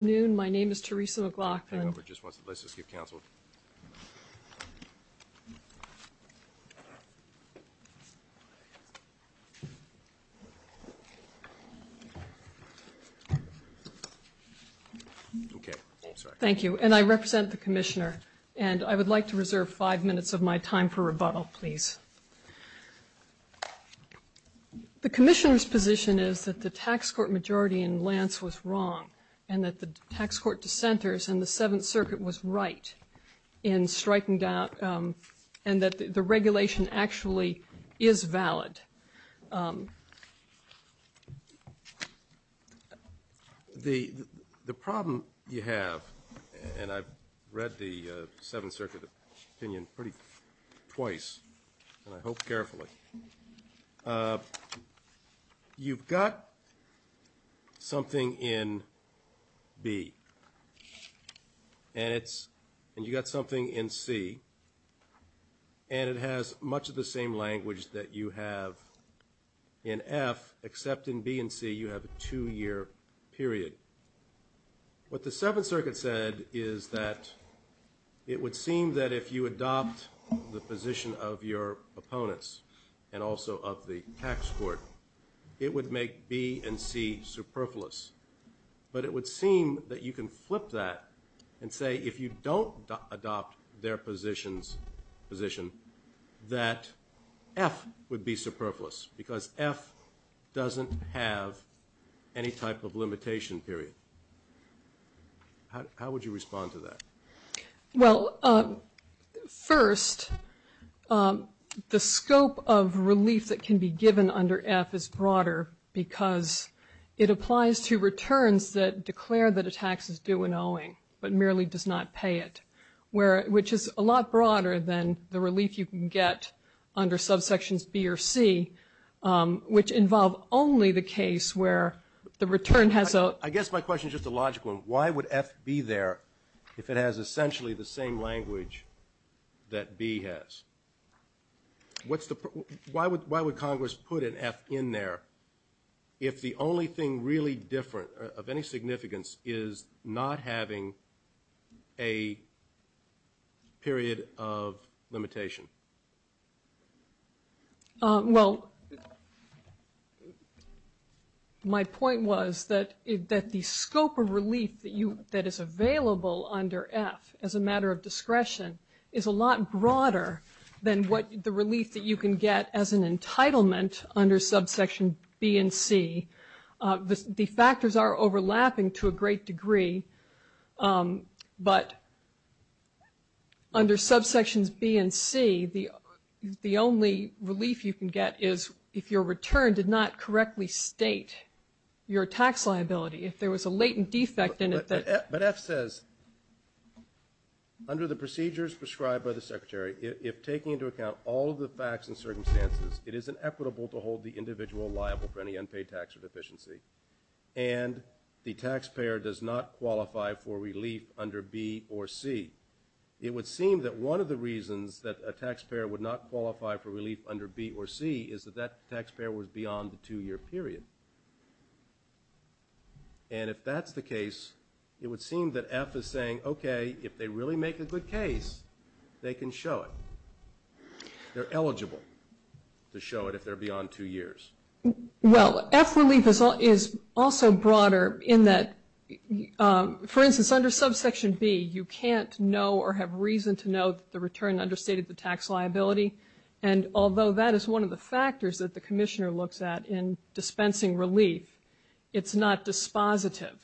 Good afternoon, my name is Theresa McLaughlin. Thank you, and I represent the Commissioner, and I would like to reserve five minutes of my time for rebuttal, please. The Commissioner's position is that the tax court majority in Lance was wrong, and that the tax court dissenters in the Seventh Circuit was right in striking down, and that the regulation actually is valid. The problem you have, and I've read the Seventh Circuit opinion pretty twice, and I hope carefully, you've got something in B, and you've got something in C, and it has much of the same language that you have in F, except in B and C you have a two-year period. What the Seventh Circuit said is that it would seem that if you adopt the position of your opponents, and also of the tax court, it would make B and C superfluous. But it would seem that you can flip that and say if you don't adopt their position, that F would be superfluous, because F doesn't have any type of limitation period. How would you respond to that? Well, first, the scope of relief that can be given under F is broader, because it applies to returns that declare that a tax is due in owing, but merely does not pay it, which is a lot broader than the relief you can get under subsections B or C, which involve only the case where the return has a I guess my question is just a logical one. Why would F be there if it has essentially the same language that B has? Why would Congress put an F in there if the only thing really different of any significance is not having a period of limitation? Well, my point was that the scope of relief that is available under F as a matter of discretion is a lot broader than the relief that you can get as an entitlement under subsection B and C. The factors are overlapping to a great degree, but under subsections B and C, the only relief you can get is if your return did not correctly state your tax liability. If there was a latent defect in it that But F says, under the procedures prescribed by the Secretary, if taking into account all of the facts and circumstances, it is inequitable to hold the individual liable for any unpaid tax or deficiency, and the taxpayer does not qualify for relief under B or C. It would seem that one of the reasons that a taxpayer would not qualify for relief under B or C is that that taxpayer was beyond the two-year period. And if that's the case, it would seem that F is saying, okay, if they really make a good case, they can show it. They're eligible to show it if they're beyond two years. Well, F relief is also broader in that, for instance, under subsection B, you can't know or have reason to know that the return understated the tax liability. And although that is one of the factors that the commissioner looks at in dispensing relief, it's not dispositive.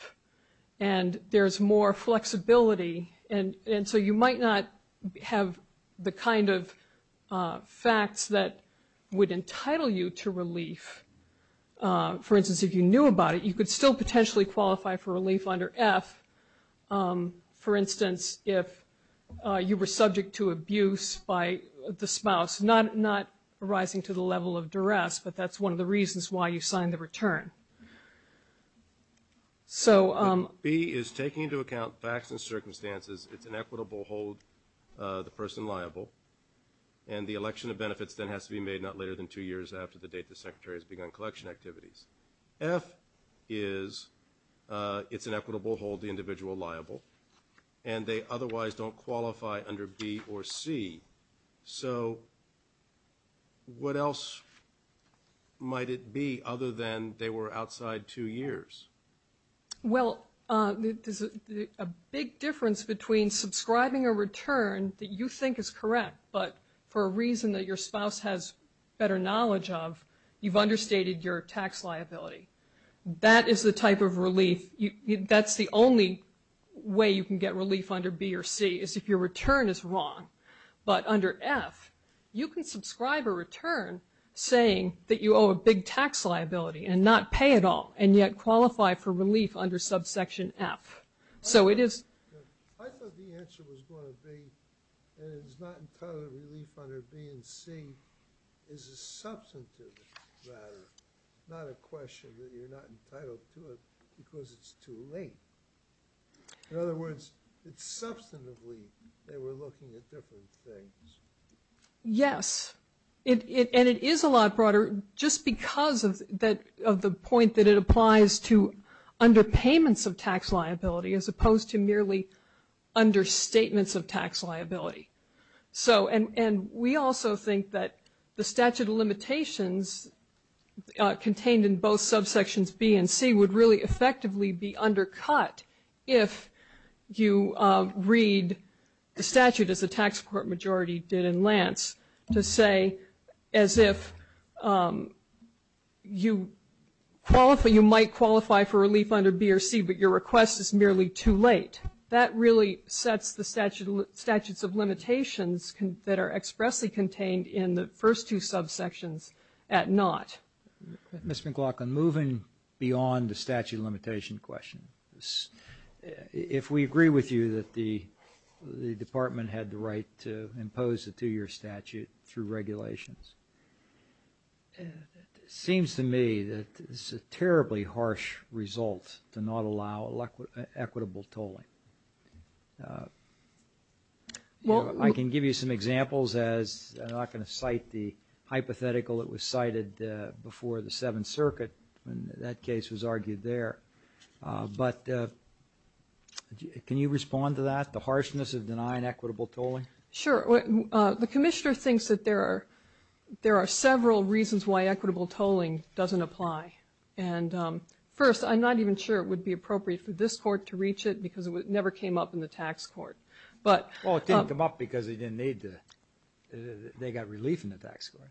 And there's more flexibility, and so you might not have the kind of facts that would entitle you to relief. For instance, if you knew about it, you could still potentially qualify for relief under F. For instance, if you were subject to abuse by the spouse, not arising to the level of duress, but that's one of the reasons why you signed the return. So B is taking into account facts and circumstances. It's an equitable hold, the person liable. And the election of benefits then has to be made not later than two years after the date the secretary has begun collection activities. F is it's an equitable hold, the individual liable. And they otherwise don't qualify under B or C. So what else might it be other than they were outside two years? Well, there's a big difference between subscribing a return that you think is correct, but for a reason that your spouse has better knowledge of, you've understated your tax liability. That is the type of relief. That's the only way you can get relief under B or C is if your return is wrong. But under F, you can subscribe a return saying that you owe a big tax liability and not pay at all, and yet qualify for relief under subsection F. I thought the answer was going to be that it's not entitled relief under B and C is a substantive matter, not a question that you're not entitled to it because it's too late. In other words, it's substantively that we're looking at different things. Yes, and it is a lot broader just because of the point that it applies to underpayments of tax liability. It's opposed to merely understatements of tax liability. And we also think that the statute of limitations contained in both subsections B and C would really effectively be undercut if you read the statute as the tax court majority did in Lance, to say as if you might qualify for relief under B or C, but your request is merely too late. That really sets the statutes of limitations that are expressly contained in the first two subsections at naught. Ms. McLaughlin, moving beyond the statute of limitation question, if we agree with you that the Department had the right to impose a two-year statute through regulations, it seems to me that this is a terribly harsh result to not allow equitable tolling. I can give you some examples as I'm not going to cite the hypothetical that was cited before the Seventh Circuit, when that case was argued there. But can you respond to that, the harshness of denying equitable tolling? Sure. The commissioner thinks that there are several reasons why equitable tolling doesn't apply. And first, I'm not even sure it would be appropriate for this court to reach it because it never came up in the tax court. Well, it didn't come up because they got relief in the tax court.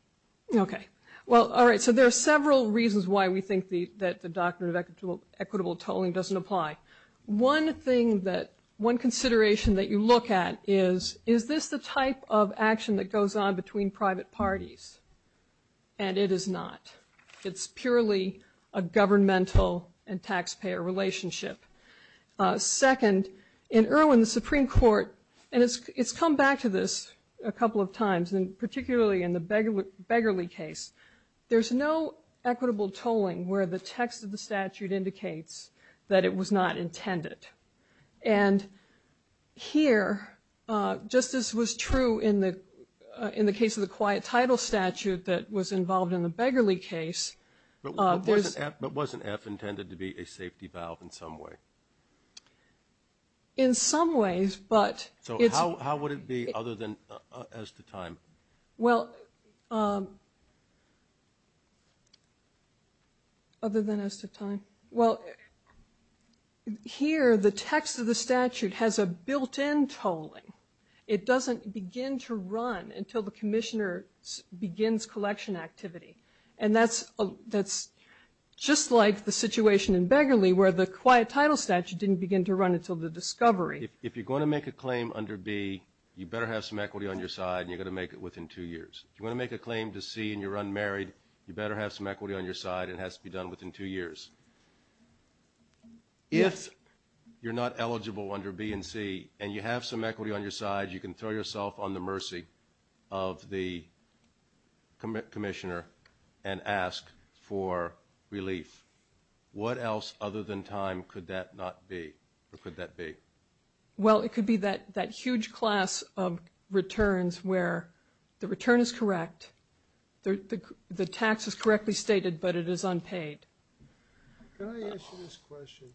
Okay. Well, all right, so there are several reasons why we think that the doctrine of equitable tolling doesn't apply. One thing that, one consideration that you look at is, is this the type of action that goes on between private parties? And it is not. It's purely a governmental and taxpayer relationship. Second, in Irwin, the Supreme Court, and it's come back to this a couple of times, and particularly in the Beggarly case, there's no equitable tolling where the text of the statute indicates that it was not intended. And here, just as was true in the case of the quiet title statute that was involved in the Beggarly case. But wasn't F intended to be a safety valve in some way? In some ways, but it's. So how would it be other than as to time? Well, other than as to time. Well, here the text of the statute has a built-in tolling. It doesn't begin to run until the commissioner begins collection activity. And that's just like the situation in Beggarly where the quiet title statute didn't begin to run until the discovery. If you're going to make a claim under B, you better have some equity on your side, and you're going to make it within two years. If you want to make a claim to C and you're unmarried, you better have some equity on your side. It has to be done within two years. If you're not eligible under B and C and you have some equity on your side, you can throw yourself on the mercy of the commissioner and ask for relief. What else other than time could that not be or could that be? Well, it could be that huge class of returns where the return is correct, the tax is correctly stated, but it is unpaid. Can I ask you this question?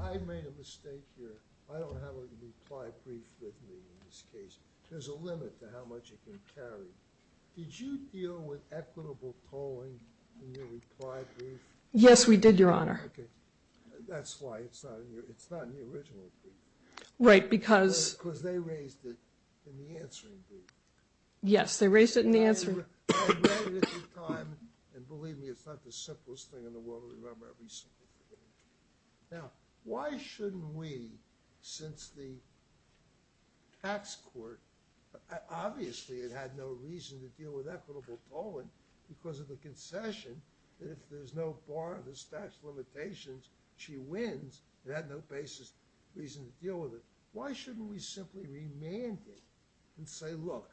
I made a mistake here. I don't have a reply brief with me in this case. There's a limit to how much it can carry. Did you deal with equitable tolling in your reply brief? Yes, we did, Your Honor. Okay. That's why it's not in the original brief. Right, because? Because they raised it in the answering brief. Yes, they raised it in the answering. I read it at the time, and believe me, it's not the simplest thing in the world. Remember, every simple thing. Now, why shouldn't we, since the tax court, obviously it had no reason to deal with equitable tolling because of the concession, that if there's no borrowers' tax limitations, she wins, it had no basis, reason to deal with it. Why shouldn't we simply remand it and say, look,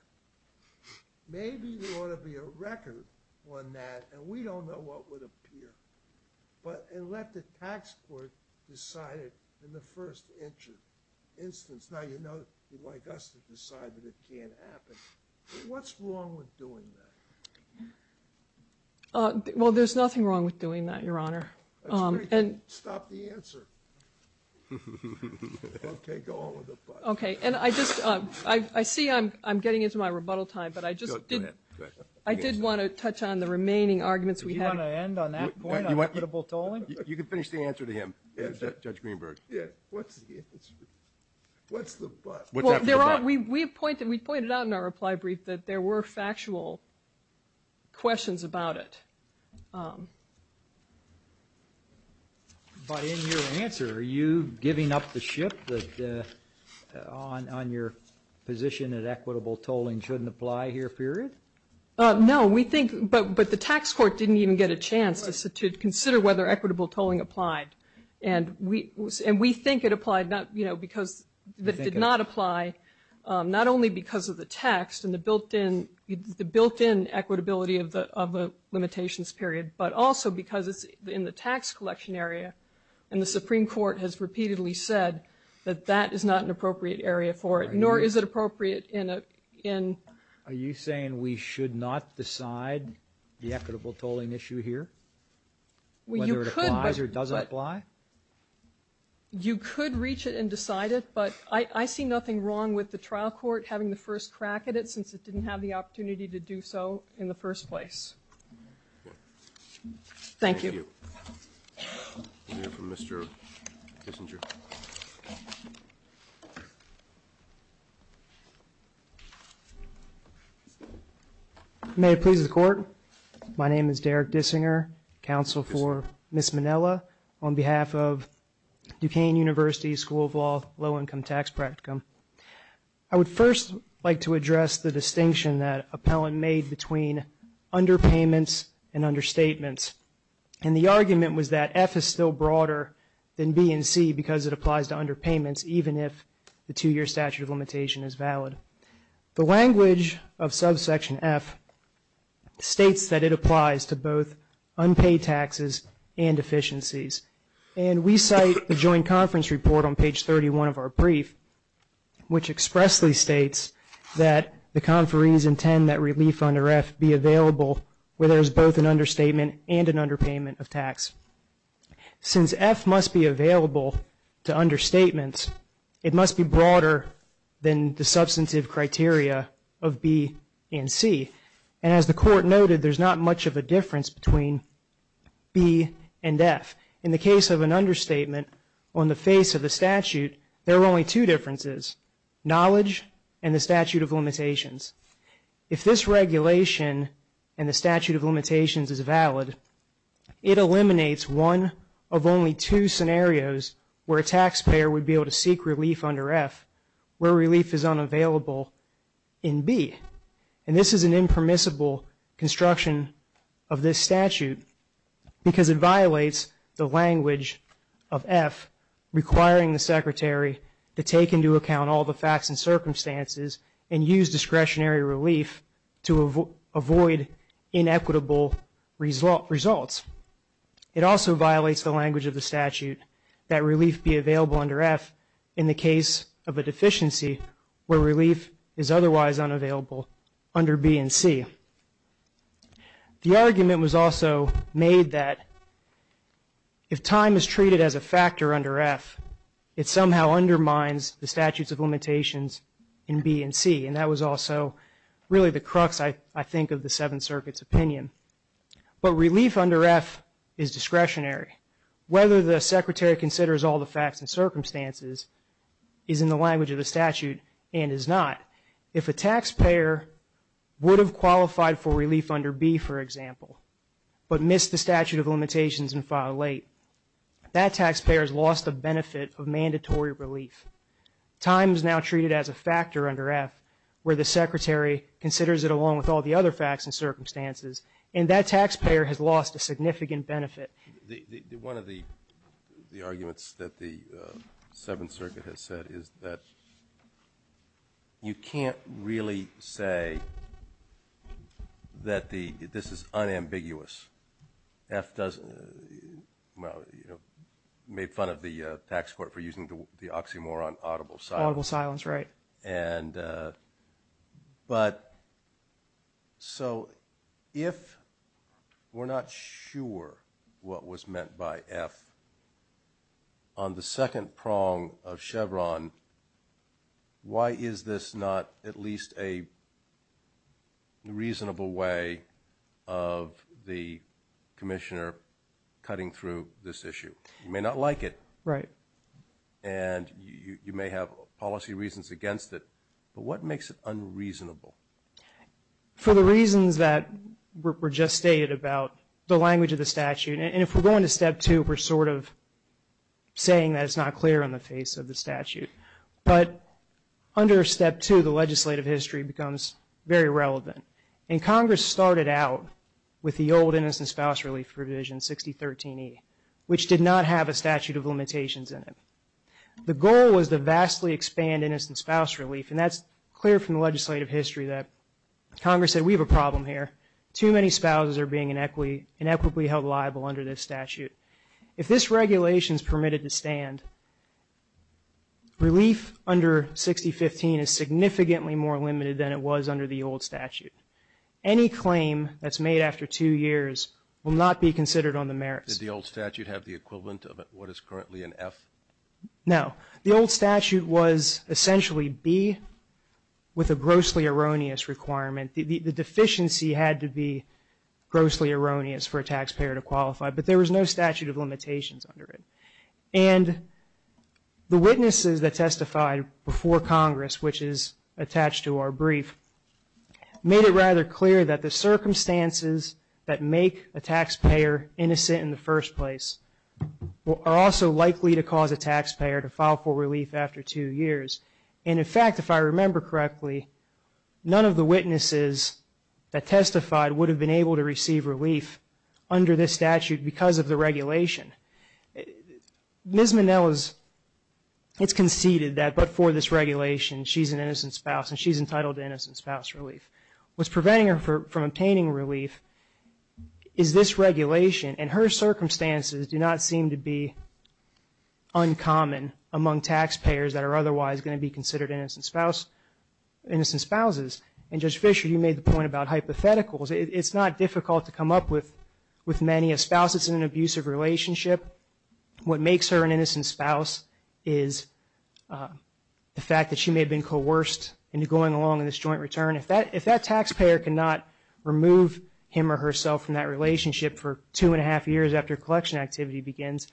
maybe there ought to be a record on that, and we don't know what would appear, and let the tax court decide it in the first instance? Now, you'd like us to decide that it can't happen. What's wrong with doing that? Well, there's nothing wrong with doing that, Your Honor. That's great. Stop the answer. Okay, go on with the question. Okay. And I see I'm getting into my rebuttal time, but I just did want to touch on the remaining arguments we had. Do you want to end on that point, equitable tolling? You can finish the answer to him, Judge Greenberg. Yeah. What's the... Well, we pointed out in our reply brief that there were factual questions about it. But in your answer, are you giving up the ship that on your position that equitable tolling shouldn't apply here, period? No. We think... But the tax court didn't even get a chance to consider whether equitable tolling applied. And we think it applied, you know, because it did not apply not only because of the text and the built-in equitability of the limitations, period, but also because it's in the tax collection area, and the Supreme Court has repeatedly said that that is not an appropriate area for it, nor is it appropriate in... Are you saying we should not decide the equitable tolling issue here, whether it applies or doesn't apply? You could reach it and decide it, but I see nothing wrong with the trial court having the first crack at it since it didn't have the opportunity to do so in the first place. Thank you. We'll hear from Mr. Kissinger. May it please the Court. My name is Derek Dissinger, counsel for Ms. Minella, on behalf of Duquesne University School of Law Low-Income Tax Practicum. I would first like to address the distinction that Appellant made between underpayments and understatements. And the argument was that F is still broader than B and C because it applies to underpayments, even if the two-year statute of limitation is valid. The language of subsection F states that it applies to both unpaid taxes and efficiencies. And we cite the joint conference report on page 31 of our brief, which expressly states that the conferees intend that relief under F be available where there is both an understatement and an underpayment of tax. Since F must be available to understatements, it must be broader than the substantive criteria of B and C. And as the Court noted, there's not much of a difference between B and F. In the case of an understatement on the face of the statute, there are only two differences, knowledge and the statute of limitations. If this regulation and the statute of limitations is valid, it eliminates one of only two scenarios where a taxpayer would be able to seek relief under F where relief is unavailable in B. And this is an impermissible construction of this statute because it violates the language of F requiring the secretary to take into account all the facts and circumstances and use discretionary relief to avoid inequitable results. It also violates the language of the statute that relief be available under F in the case of a deficiency where relief is otherwise unavailable under B and C. The argument was also made that if time is treated as a factor under F, it somehow undermines the statutes of limitations in B and C, and that was also really the crux, I think, of the Seventh Circuit's opinion. But relief under F is discretionary. Whether the secretary considers all the facts and circumstances is in the language of the statute and is not. If a taxpayer would have qualified for relief under B, for example, but missed the statute of limitations and filed late, that taxpayer has lost the benefit of mandatory relief. Time is now treated as a factor under F where the secretary considers it along with all the other facts and circumstances, and that taxpayer has lost a significant benefit. One of the arguments that the Seventh Circuit has said is that you can't really say that this is unambiguous. F made fun of the tax court for using the oxymoron audible silence. Audible silence, right. But so if we're not sure what was meant by F, on the second prong of Chevron, why is this not at least a reasonable way of the commissioner cutting through this issue? You may not like it. Right. And you may have policy reasons against it. But what makes it unreasonable? For the reasons that were just stated about the language of the statute, and if we're going to Step 2, we're sort of saying that it's not clear on the face of the statute. But under Step 2, the legislative history becomes very relevant. And Congress started out with the old Innocent Spouse Relief Provision 6013E, which did not have a statute of limitations in it. The goal was to vastly expand Innocent Spouse Relief, and that's clear from the legislative history that Congress said we have a problem here. Too many spouses are being inequitably held liable under this statute. If this regulation is permitted to stand, relief under 6015 is significantly more limited than it was under the old statute. Any claim that's made after two years will not be considered on the merits. Did the old statute have the equivalent of what is currently an F? No. The old statute was essentially B with a grossly erroneous requirement. The deficiency had to be grossly erroneous for a taxpayer to qualify, but there was no statute of limitations under it. And the witnesses that testified before Congress, which is attached to our brief, made it rather clear that the circumstances that make a taxpayer innocent in the first place are also likely to cause a taxpayer to file for relief after two years. And, in fact, if I remember correctly, none of the witnesses that testified would have been able to receive relief under this statute because of the regulation. Ms. Minnell has conceded that but for this regulation she's an innocent spouse and she's entitled to innocent spouse relief. What's preventing her from obtaining relief is this regulation, and her circumstances do not seem to be uncommon among taxpayers that are otherwise going to be considered innocent spouses. And, Judge Fischer, you made the point about hypotheticals. It's not difficult to come up with many. A spouse that's in an abusive relationship, what makes her an innocent spouse is the fact that she may have been coerced into going along in this joint return. If that taxpayer cannot remove him or herself from that relationship for two and a half years after collection activity begins,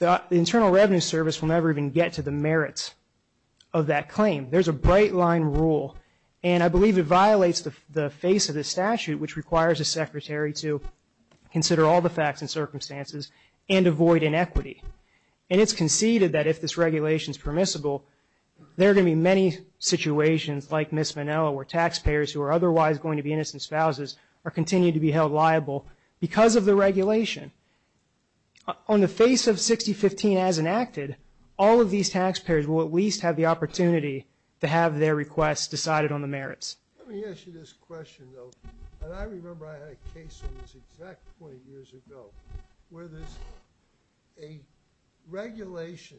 the Internal Revenue Service will never even get to the merits of that claim. There's a bright-line rule, and I believe it violates the face of the statute, which requires a secretary to consider all the facts and circumstances and avoid inequity. And it's conceded that if this regulation is permissible, there are going to be many situations like Ms. Minnell where taxpayers who are otherwise going to be innocent spouses are continuing to be held liable because of the regulation. On the face of 6015 as enacted, all of these taxpayers will at least have the opportunity to have their requests decided on the merits. Let me ask you this question, though. And I remember I had a case on this exact point years ago where there's a regulation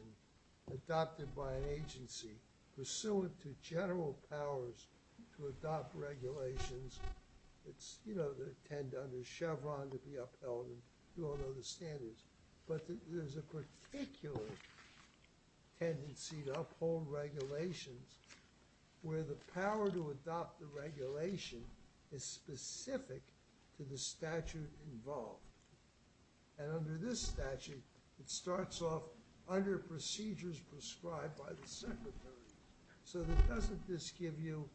adopted by an agency pursuant to general powers to adopt regulations. It's, you know, they tend under Chevron to be upheld, and you all know the standards. But there's a particular tendency to uphold regulations where the power to adopt the regulation is specific to the statute involved. And under this statute, it starts off under procedures prescribed by the secretary. So doesn't this give you,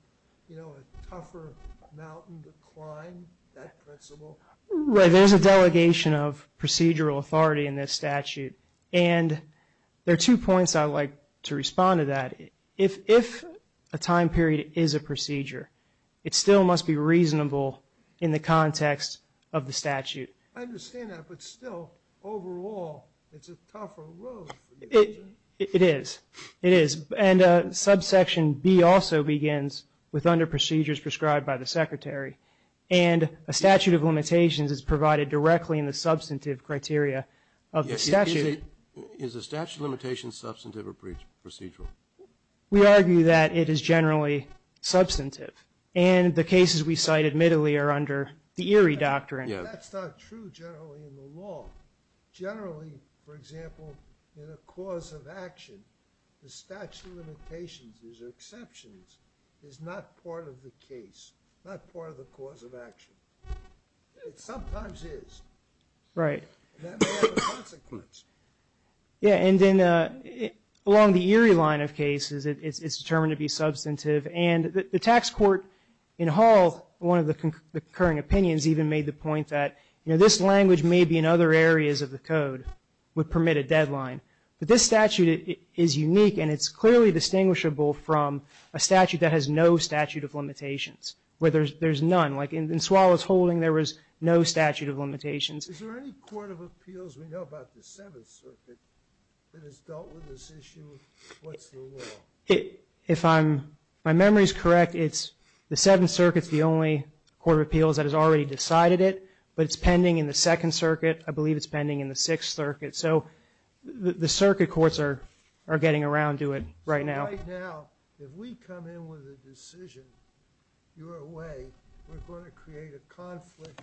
you know, a tougher mountain to climb, that principle? Right. There's a delegation of procedural authority in this statute. And there are two points I'd like to respond to that. If a time period is a procedure, it still must be reasonable in the context of the statute. I understand that. But still, overall, it's a tougher road for you, isn't it? It is. It is. And subsection B also begins with under procedures prescribed by the secretary. in the substantive criteria of the statute. Is the statute of limitations substantive or procedural? We argue that it is generally substantive. And the cases we cite admittedly are under the Erie Doctrine. That's not true generally in the law. Generally, for example, in a cause of action, the statute of limitations or exceptions is not part of the case, not part of the cause of action. It sometimes is. Right. That may have a consequence. Yeah, and then along the Erie line of cases, it's determined to be substantive. And the tax court in Hall, one of the concurring opinions, even made the point that, you know, this language may be in other areas of the code would permit a deadline. But this statute is unique, and it's clearly distinguishable from a statute that has no statute of limitations, where there's none. Like in Suala's holding, there was no statute of limitations. Is there any court of appeals we know about the Seventh Circuit that has dealt with this issue of what's the law? If my memory is correct, the Seventh Circuit is the only court of appeals that has already decided it. But it's pending in the Second Circuit. I believe it's pending in the Sixth Circuit. So the circuit courts are getting around to it right now. So right now, if we come in with a decision your way, we're going to create a conflict,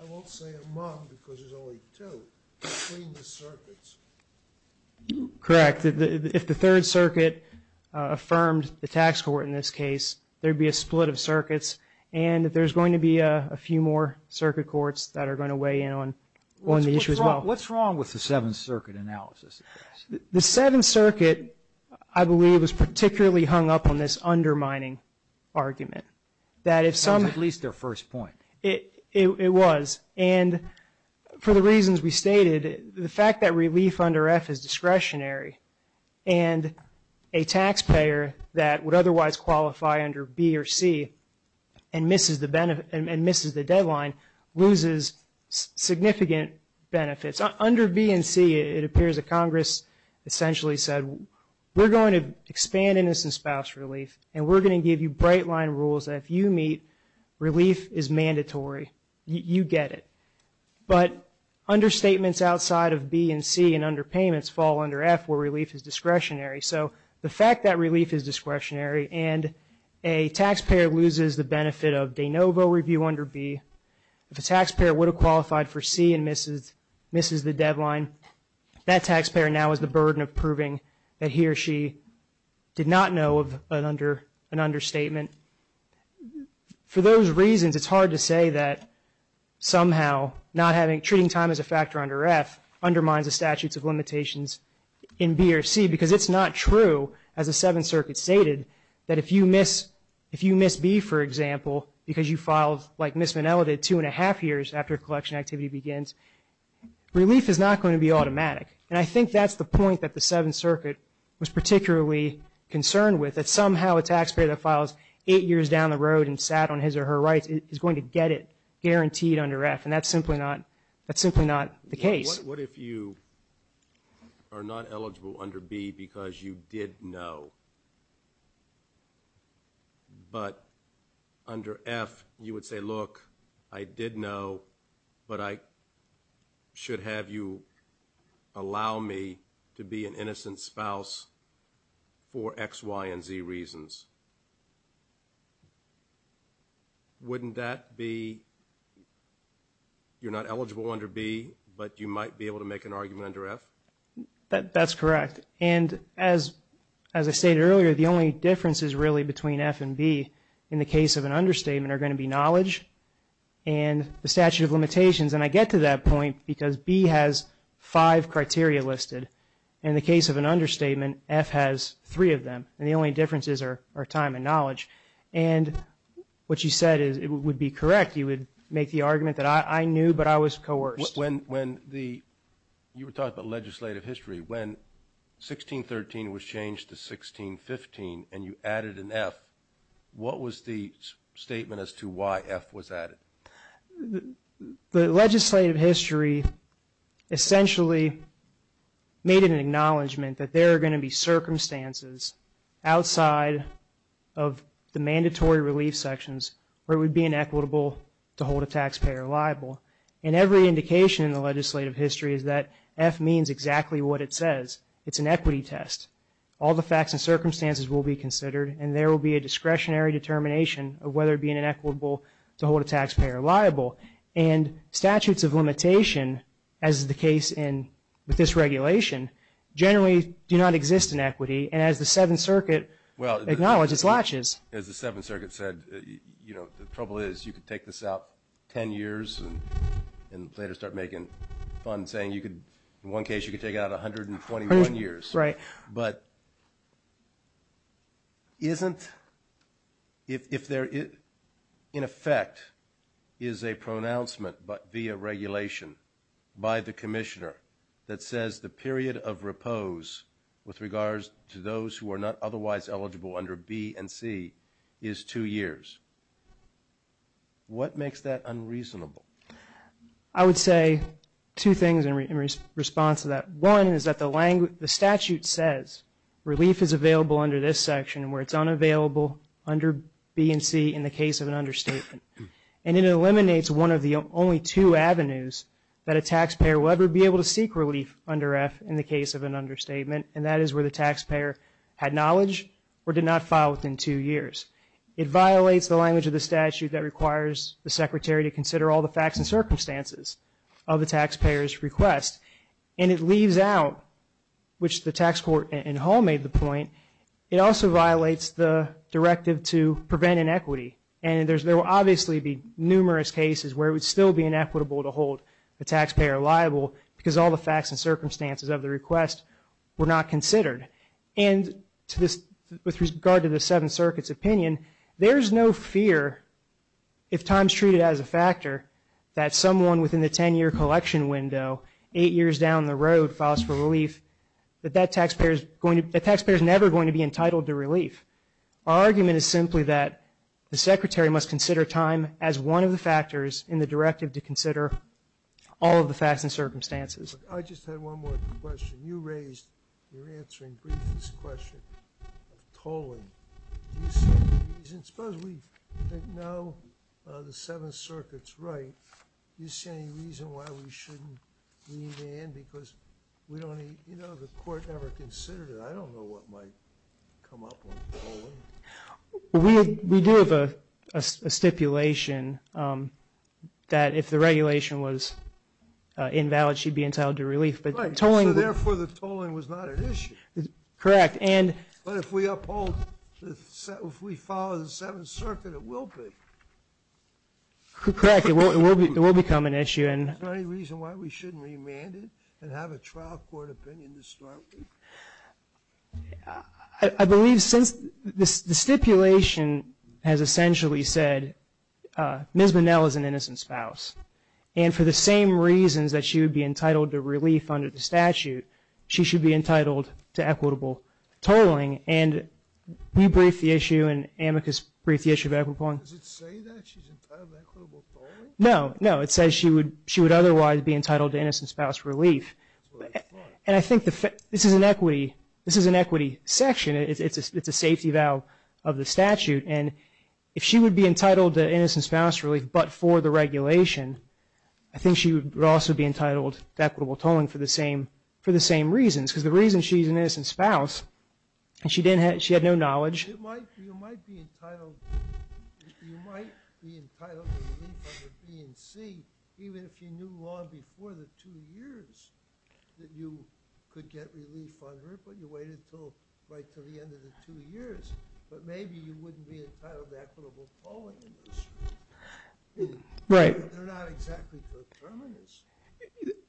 I won't say among because there's only two, between the circuits. Correct. If the Third Circuit affirmed the tax court in this case, there would be a split of circuits, and there's going to be a few more circuit courts that are going to weigh in on the issue as well. What's wrong with the Seventh Circuit analysis? The Seventh Circuit, I believe, was particularly hung up on this undermining argument. At least their first point. It was. And for the reasons we stated, the fact that relief under F is discretionary, and a taxpayer that would otherwise qualify under B or C and misses the deadline, loses significant benefits. Under B and C, it appears that Congress essentially said, we're going to expand innocent spouse relief, and we're going to give you bright line rules that if you meet, relief is mandatory. You get it. But understatements outside of B and C and underpayments fall under F where relief is discretionary. So the fact that relief is discretionary and a taxpayer loses the benefit of de novo review under B, if a taxpayer would have qualified for C and misses the deadline, that taxpayer now has the burden of proving that he or she did not know of an understatement. For those reasons, it's hard to say that somehow treating time as a factor under F undermines the statutes of limitations in B or C, because it's not true, as the Seventh Circuit stated, that if you miss B, for example, because you filed, like Ms. Minnell did, two and a half years after collection activity begins, relief is not going to be automatic. And I think that's the point that the Seventh Circuit was particularly concerned with, that somehow a taxpayer that files eight years down the road and sat on his or her rights is going to get it guaranteed under F, and that's simply not the case. What if you are not eligible under B because you did know, but under F you would say, look, I did know, but I should have you allow me to be an innocent spouse for X, Y, and Z reasons. Wouldn't that be, you're not eligible under B, but you might be able to make an argument under F? That's correct. And as I stated earlier, the only differences really between F and B in the case of an understatement are going to be knowledge and the statute of limitations. And I get to that point because B has five criteria listed. In the case of an understatement, F has three of them, and the only differences are time and knowledge. And what you said would be correct. You would make the argument that I knew, but I was coerced. You were talking about legislative history. When 1613 was changed to 1615 and you added an F, what was the statement as to why F was added? The legislative history essentially made an acknowledgement that there are going to be circumstances outside of the mandatory relief sections where it would be inequitable to hold a taxpayer liable. And every indication in the legislative history is that F means exactly what it says. It's an equity test. All the facts and circumstances will be considered, and there will be a discretionary determination of whether it would be inequitable to hold a taxpayer liable. And statutes of limitation, as is the case with this regulation, generally do not exist in equity. And as the Seventh Circuit acknowledged, it's latches. As the Seventh Circuit said, you know, the trouble is you could take this out 10 years and later start making funds saying you could, in one case, you could take it out 121 years. Right. But isn't, if there in effect is a pronouncement via regulation by the commissioner that says the period of repose with regards to those who are not otherwise eligible under B and C is two years, what makes that unreasonable? I would say two things in response to that. One is that the statute says relief is available under this section where it's unavailable under B and C in the case of an understatement. And it eliminates one of the only two avenues that a taxpayer will ever be able to seek relief under F in the case of an understatement, and that is where the taxpayer had knowledge or did not file within two years. It violates the language of the statute that requires the secretary to consider all the facts and circumstances of the taxpayer's request. And it leaves out, which the tax court in Hall made the point, it also violates the directive to prevent inequity. And there will obviously be numerous cases where it would still be inequitable to hold the taxpayer liable because all the facts and circumstances of the request were not considered. And with regard to the Seventh Circuit's opinion, there is no fear if times treated as a factor that someone within the 10-year collection window eight years down the road files for relief, that that taxpayer is never going to be entitled to relief. Our argument is simply that the secretary must consider time as one of the factors in the directive to consider all of the facts and circumstances. I just had one more question. You raised, you're answering briefly this question of tolling. Do you see any reason, suppose we didn't know the Seventh Circuit's right, do you see any reason why we shouldn't leave it in because we don't need, you know, the court never considered it. I don't know what might come up with tolling. We do have a stipulation that if the regulation was invalid, she'd be entitled to relief. Right, so therefore the tolling was not an issue. Correct. But if we uphold, if we follow the Seventh Circuit, it will be. Correct, it will become an issue. Is there any reason why we shouldn't remand it and have a trial court opinion to start with? I believe since the stipulation has essentially said Ms. Bonnell is an innocent spouse and for the same reasons that she would be entitled to relief under the statute, she should be entitled to equitable tolling. Can you brief the issue and amicus brief the issue of equitable tolling? Does it say that she's entitled to equitable tolling? No, no. It says she would otherwise be entitled to innocent spouse relief. That's what I thought. And I think this is an equity section. It's a safety valve of the statute. And if she would be entitled to innocent spouse relief but for the regulation, I think she would also be entitled to equitable tolling for the same reasons because the reason she's an innocent spouse is she had no knowledge. You might be entitled to relief under B and C even if you knew long before the two years that you could get relief on her but you waited right until the end of the two years. But maybe you wouldn't be entitled to equitable tolling. They're not exactly determinants.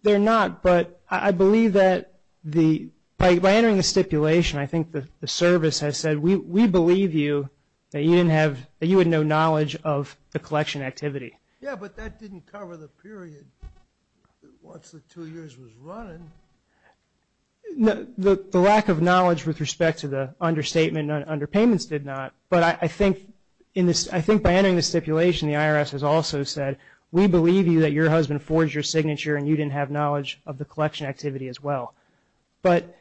They're not, but I believe that by entering the stipulation, I think the service has said, we believe you that you had no knowledge of the collection activity. Yeah, but that didn't cover the period once the two years was running. The lack of knowledge with respect to the understatement and underpayments did not. But I think by entering the stipulation, the IRS has also said, we believe you that your husband forged your signature and you didn't have knowledge of the collection activity as well. But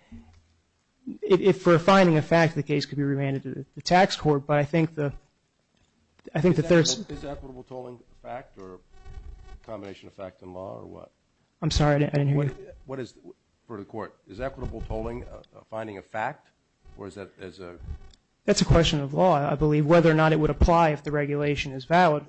if we're finding a fact, the case could be remanded to the tax court. But I think the third. Is equitable tolling a fact or a combination of fact and law or what? I'm sorry, I didn't hear you. What is it for the court? Is equitable tolling finding a fact or is that as a? That's a question of law, I believe, as to whether or not it would apply if the regulation is valid.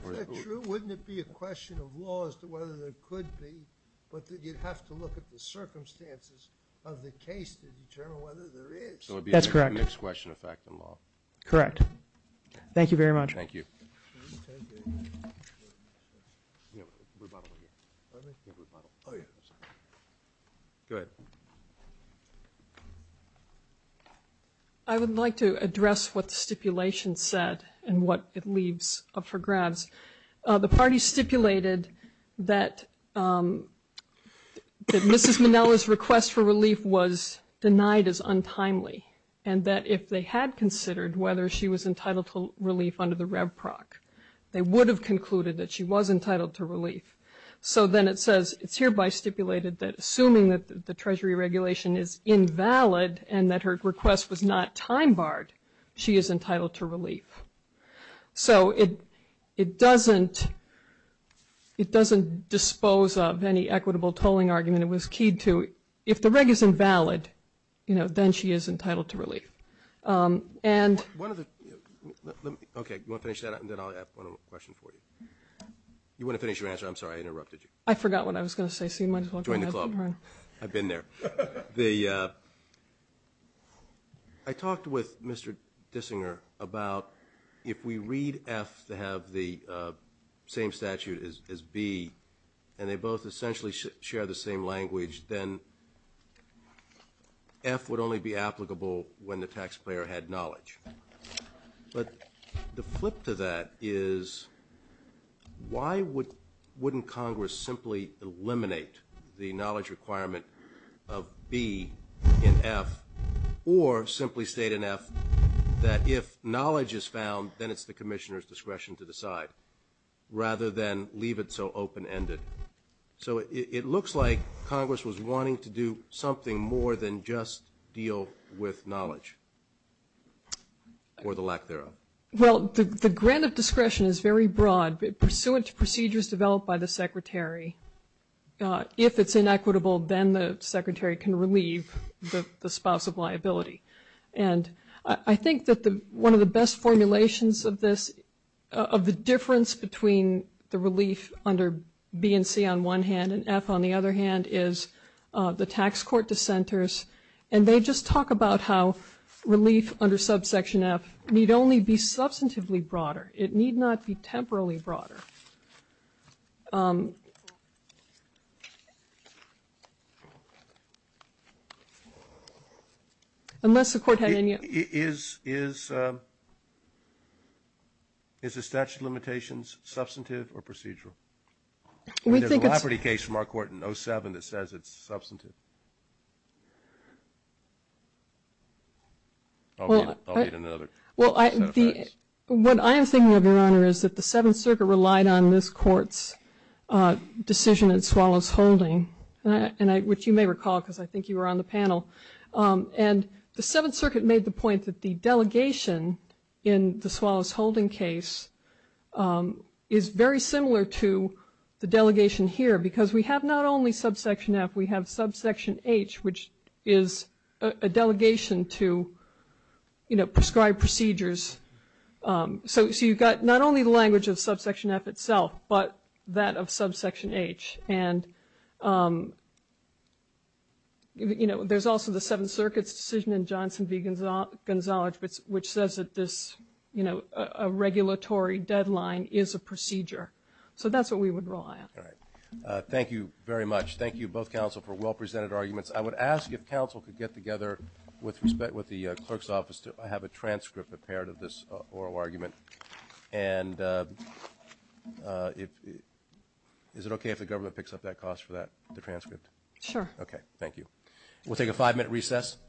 Wouldn't it be a question of law as to whether there could be, but you'd have to look at the circumstances of the case to determine whether there is. That's correct. Next question of fact and law. Correct. Thank you very much. Thank you. Good. Thank you. I would like to address what the stipulation said and what it leaves up for grabs. The party stipulated that Mrs. Manella's request for relief was denied as untimely and that if they had considered whether she was entitled to relief under the rev proc, they would have concluded that she was entitled to relief. So then it says it's hereby stipulated that assuming that the treasury regulation is invalid and that her request was not time barred, she is entitled to relief. So it doesn't dispose of any equitable tolling argument. It was keyed to if the reg is invalid, you know, then she is entitled to relief. Okay. You want to finish that and then I'll have one more question for you. You want to finish your answer? I'm sorry. I interrupted you. I forgot what I was going to say. Join the club. I've been there. I talked with Mr. Dissinger about if we read F to have the same statute as B and they both essentially share the same language, then F would only be applicable when the taxpayer had knowledge. But the flip to that is why wouldn't Congress simply eliminate the knowledge requirement of B in F or simply state in F that if knowledge is found, then it's the commissioner's discretion to decide rather than leave it so open-ended. So it looks like Congress was wanting to do something more than just deal with knowledge or the lack thereof. Well, the grant of discretion is very broad. Pursuant to procedures developed by the secretary, if it's inequitable then the secretary can relieve the spouse of liability. And I think that one of the best formulations of this, of the difference between the relief under B and C on one hand and F on the other hand is the tax court dissenters, and they just talk about how relief under subsection F need only be substantively broader. It need not be temporally broader. Unless the court had any other question. Is the statute of limitations substantive or procedural? I mean, there's a liability case from our court in 07 that says it's substantive. I'll need another set of facts. What I am thinking of, Your Honor, is that the Seventh Circuit relied on this court's decision in Swallows Holding, which you may recall because I think you were on the panel. And the Seventh Circuit made the point that the delegation in the Swallows Holding case is very similar to the delegation here because we have not only subsection F, we have subsection H, which is a delegation to prescribe procedures. So you've got not only the language of subsection F itself, but that of subsection H. And there's also the Seventh Circuit's decision in Johnson v. Gonzalez, which says that this regulatory deadline is a procedure. So that's what we would rely on. All right. Thank you very much. Thank you, both counsel, for well-presented arguments. I would ask if counsel could get together with the clerk's office to have a transcript prepared of this oral argument. And is it okay if the government picks up that cost for that, the transcript? Sure. Okay. Thank you. We'll take a five-minute recess.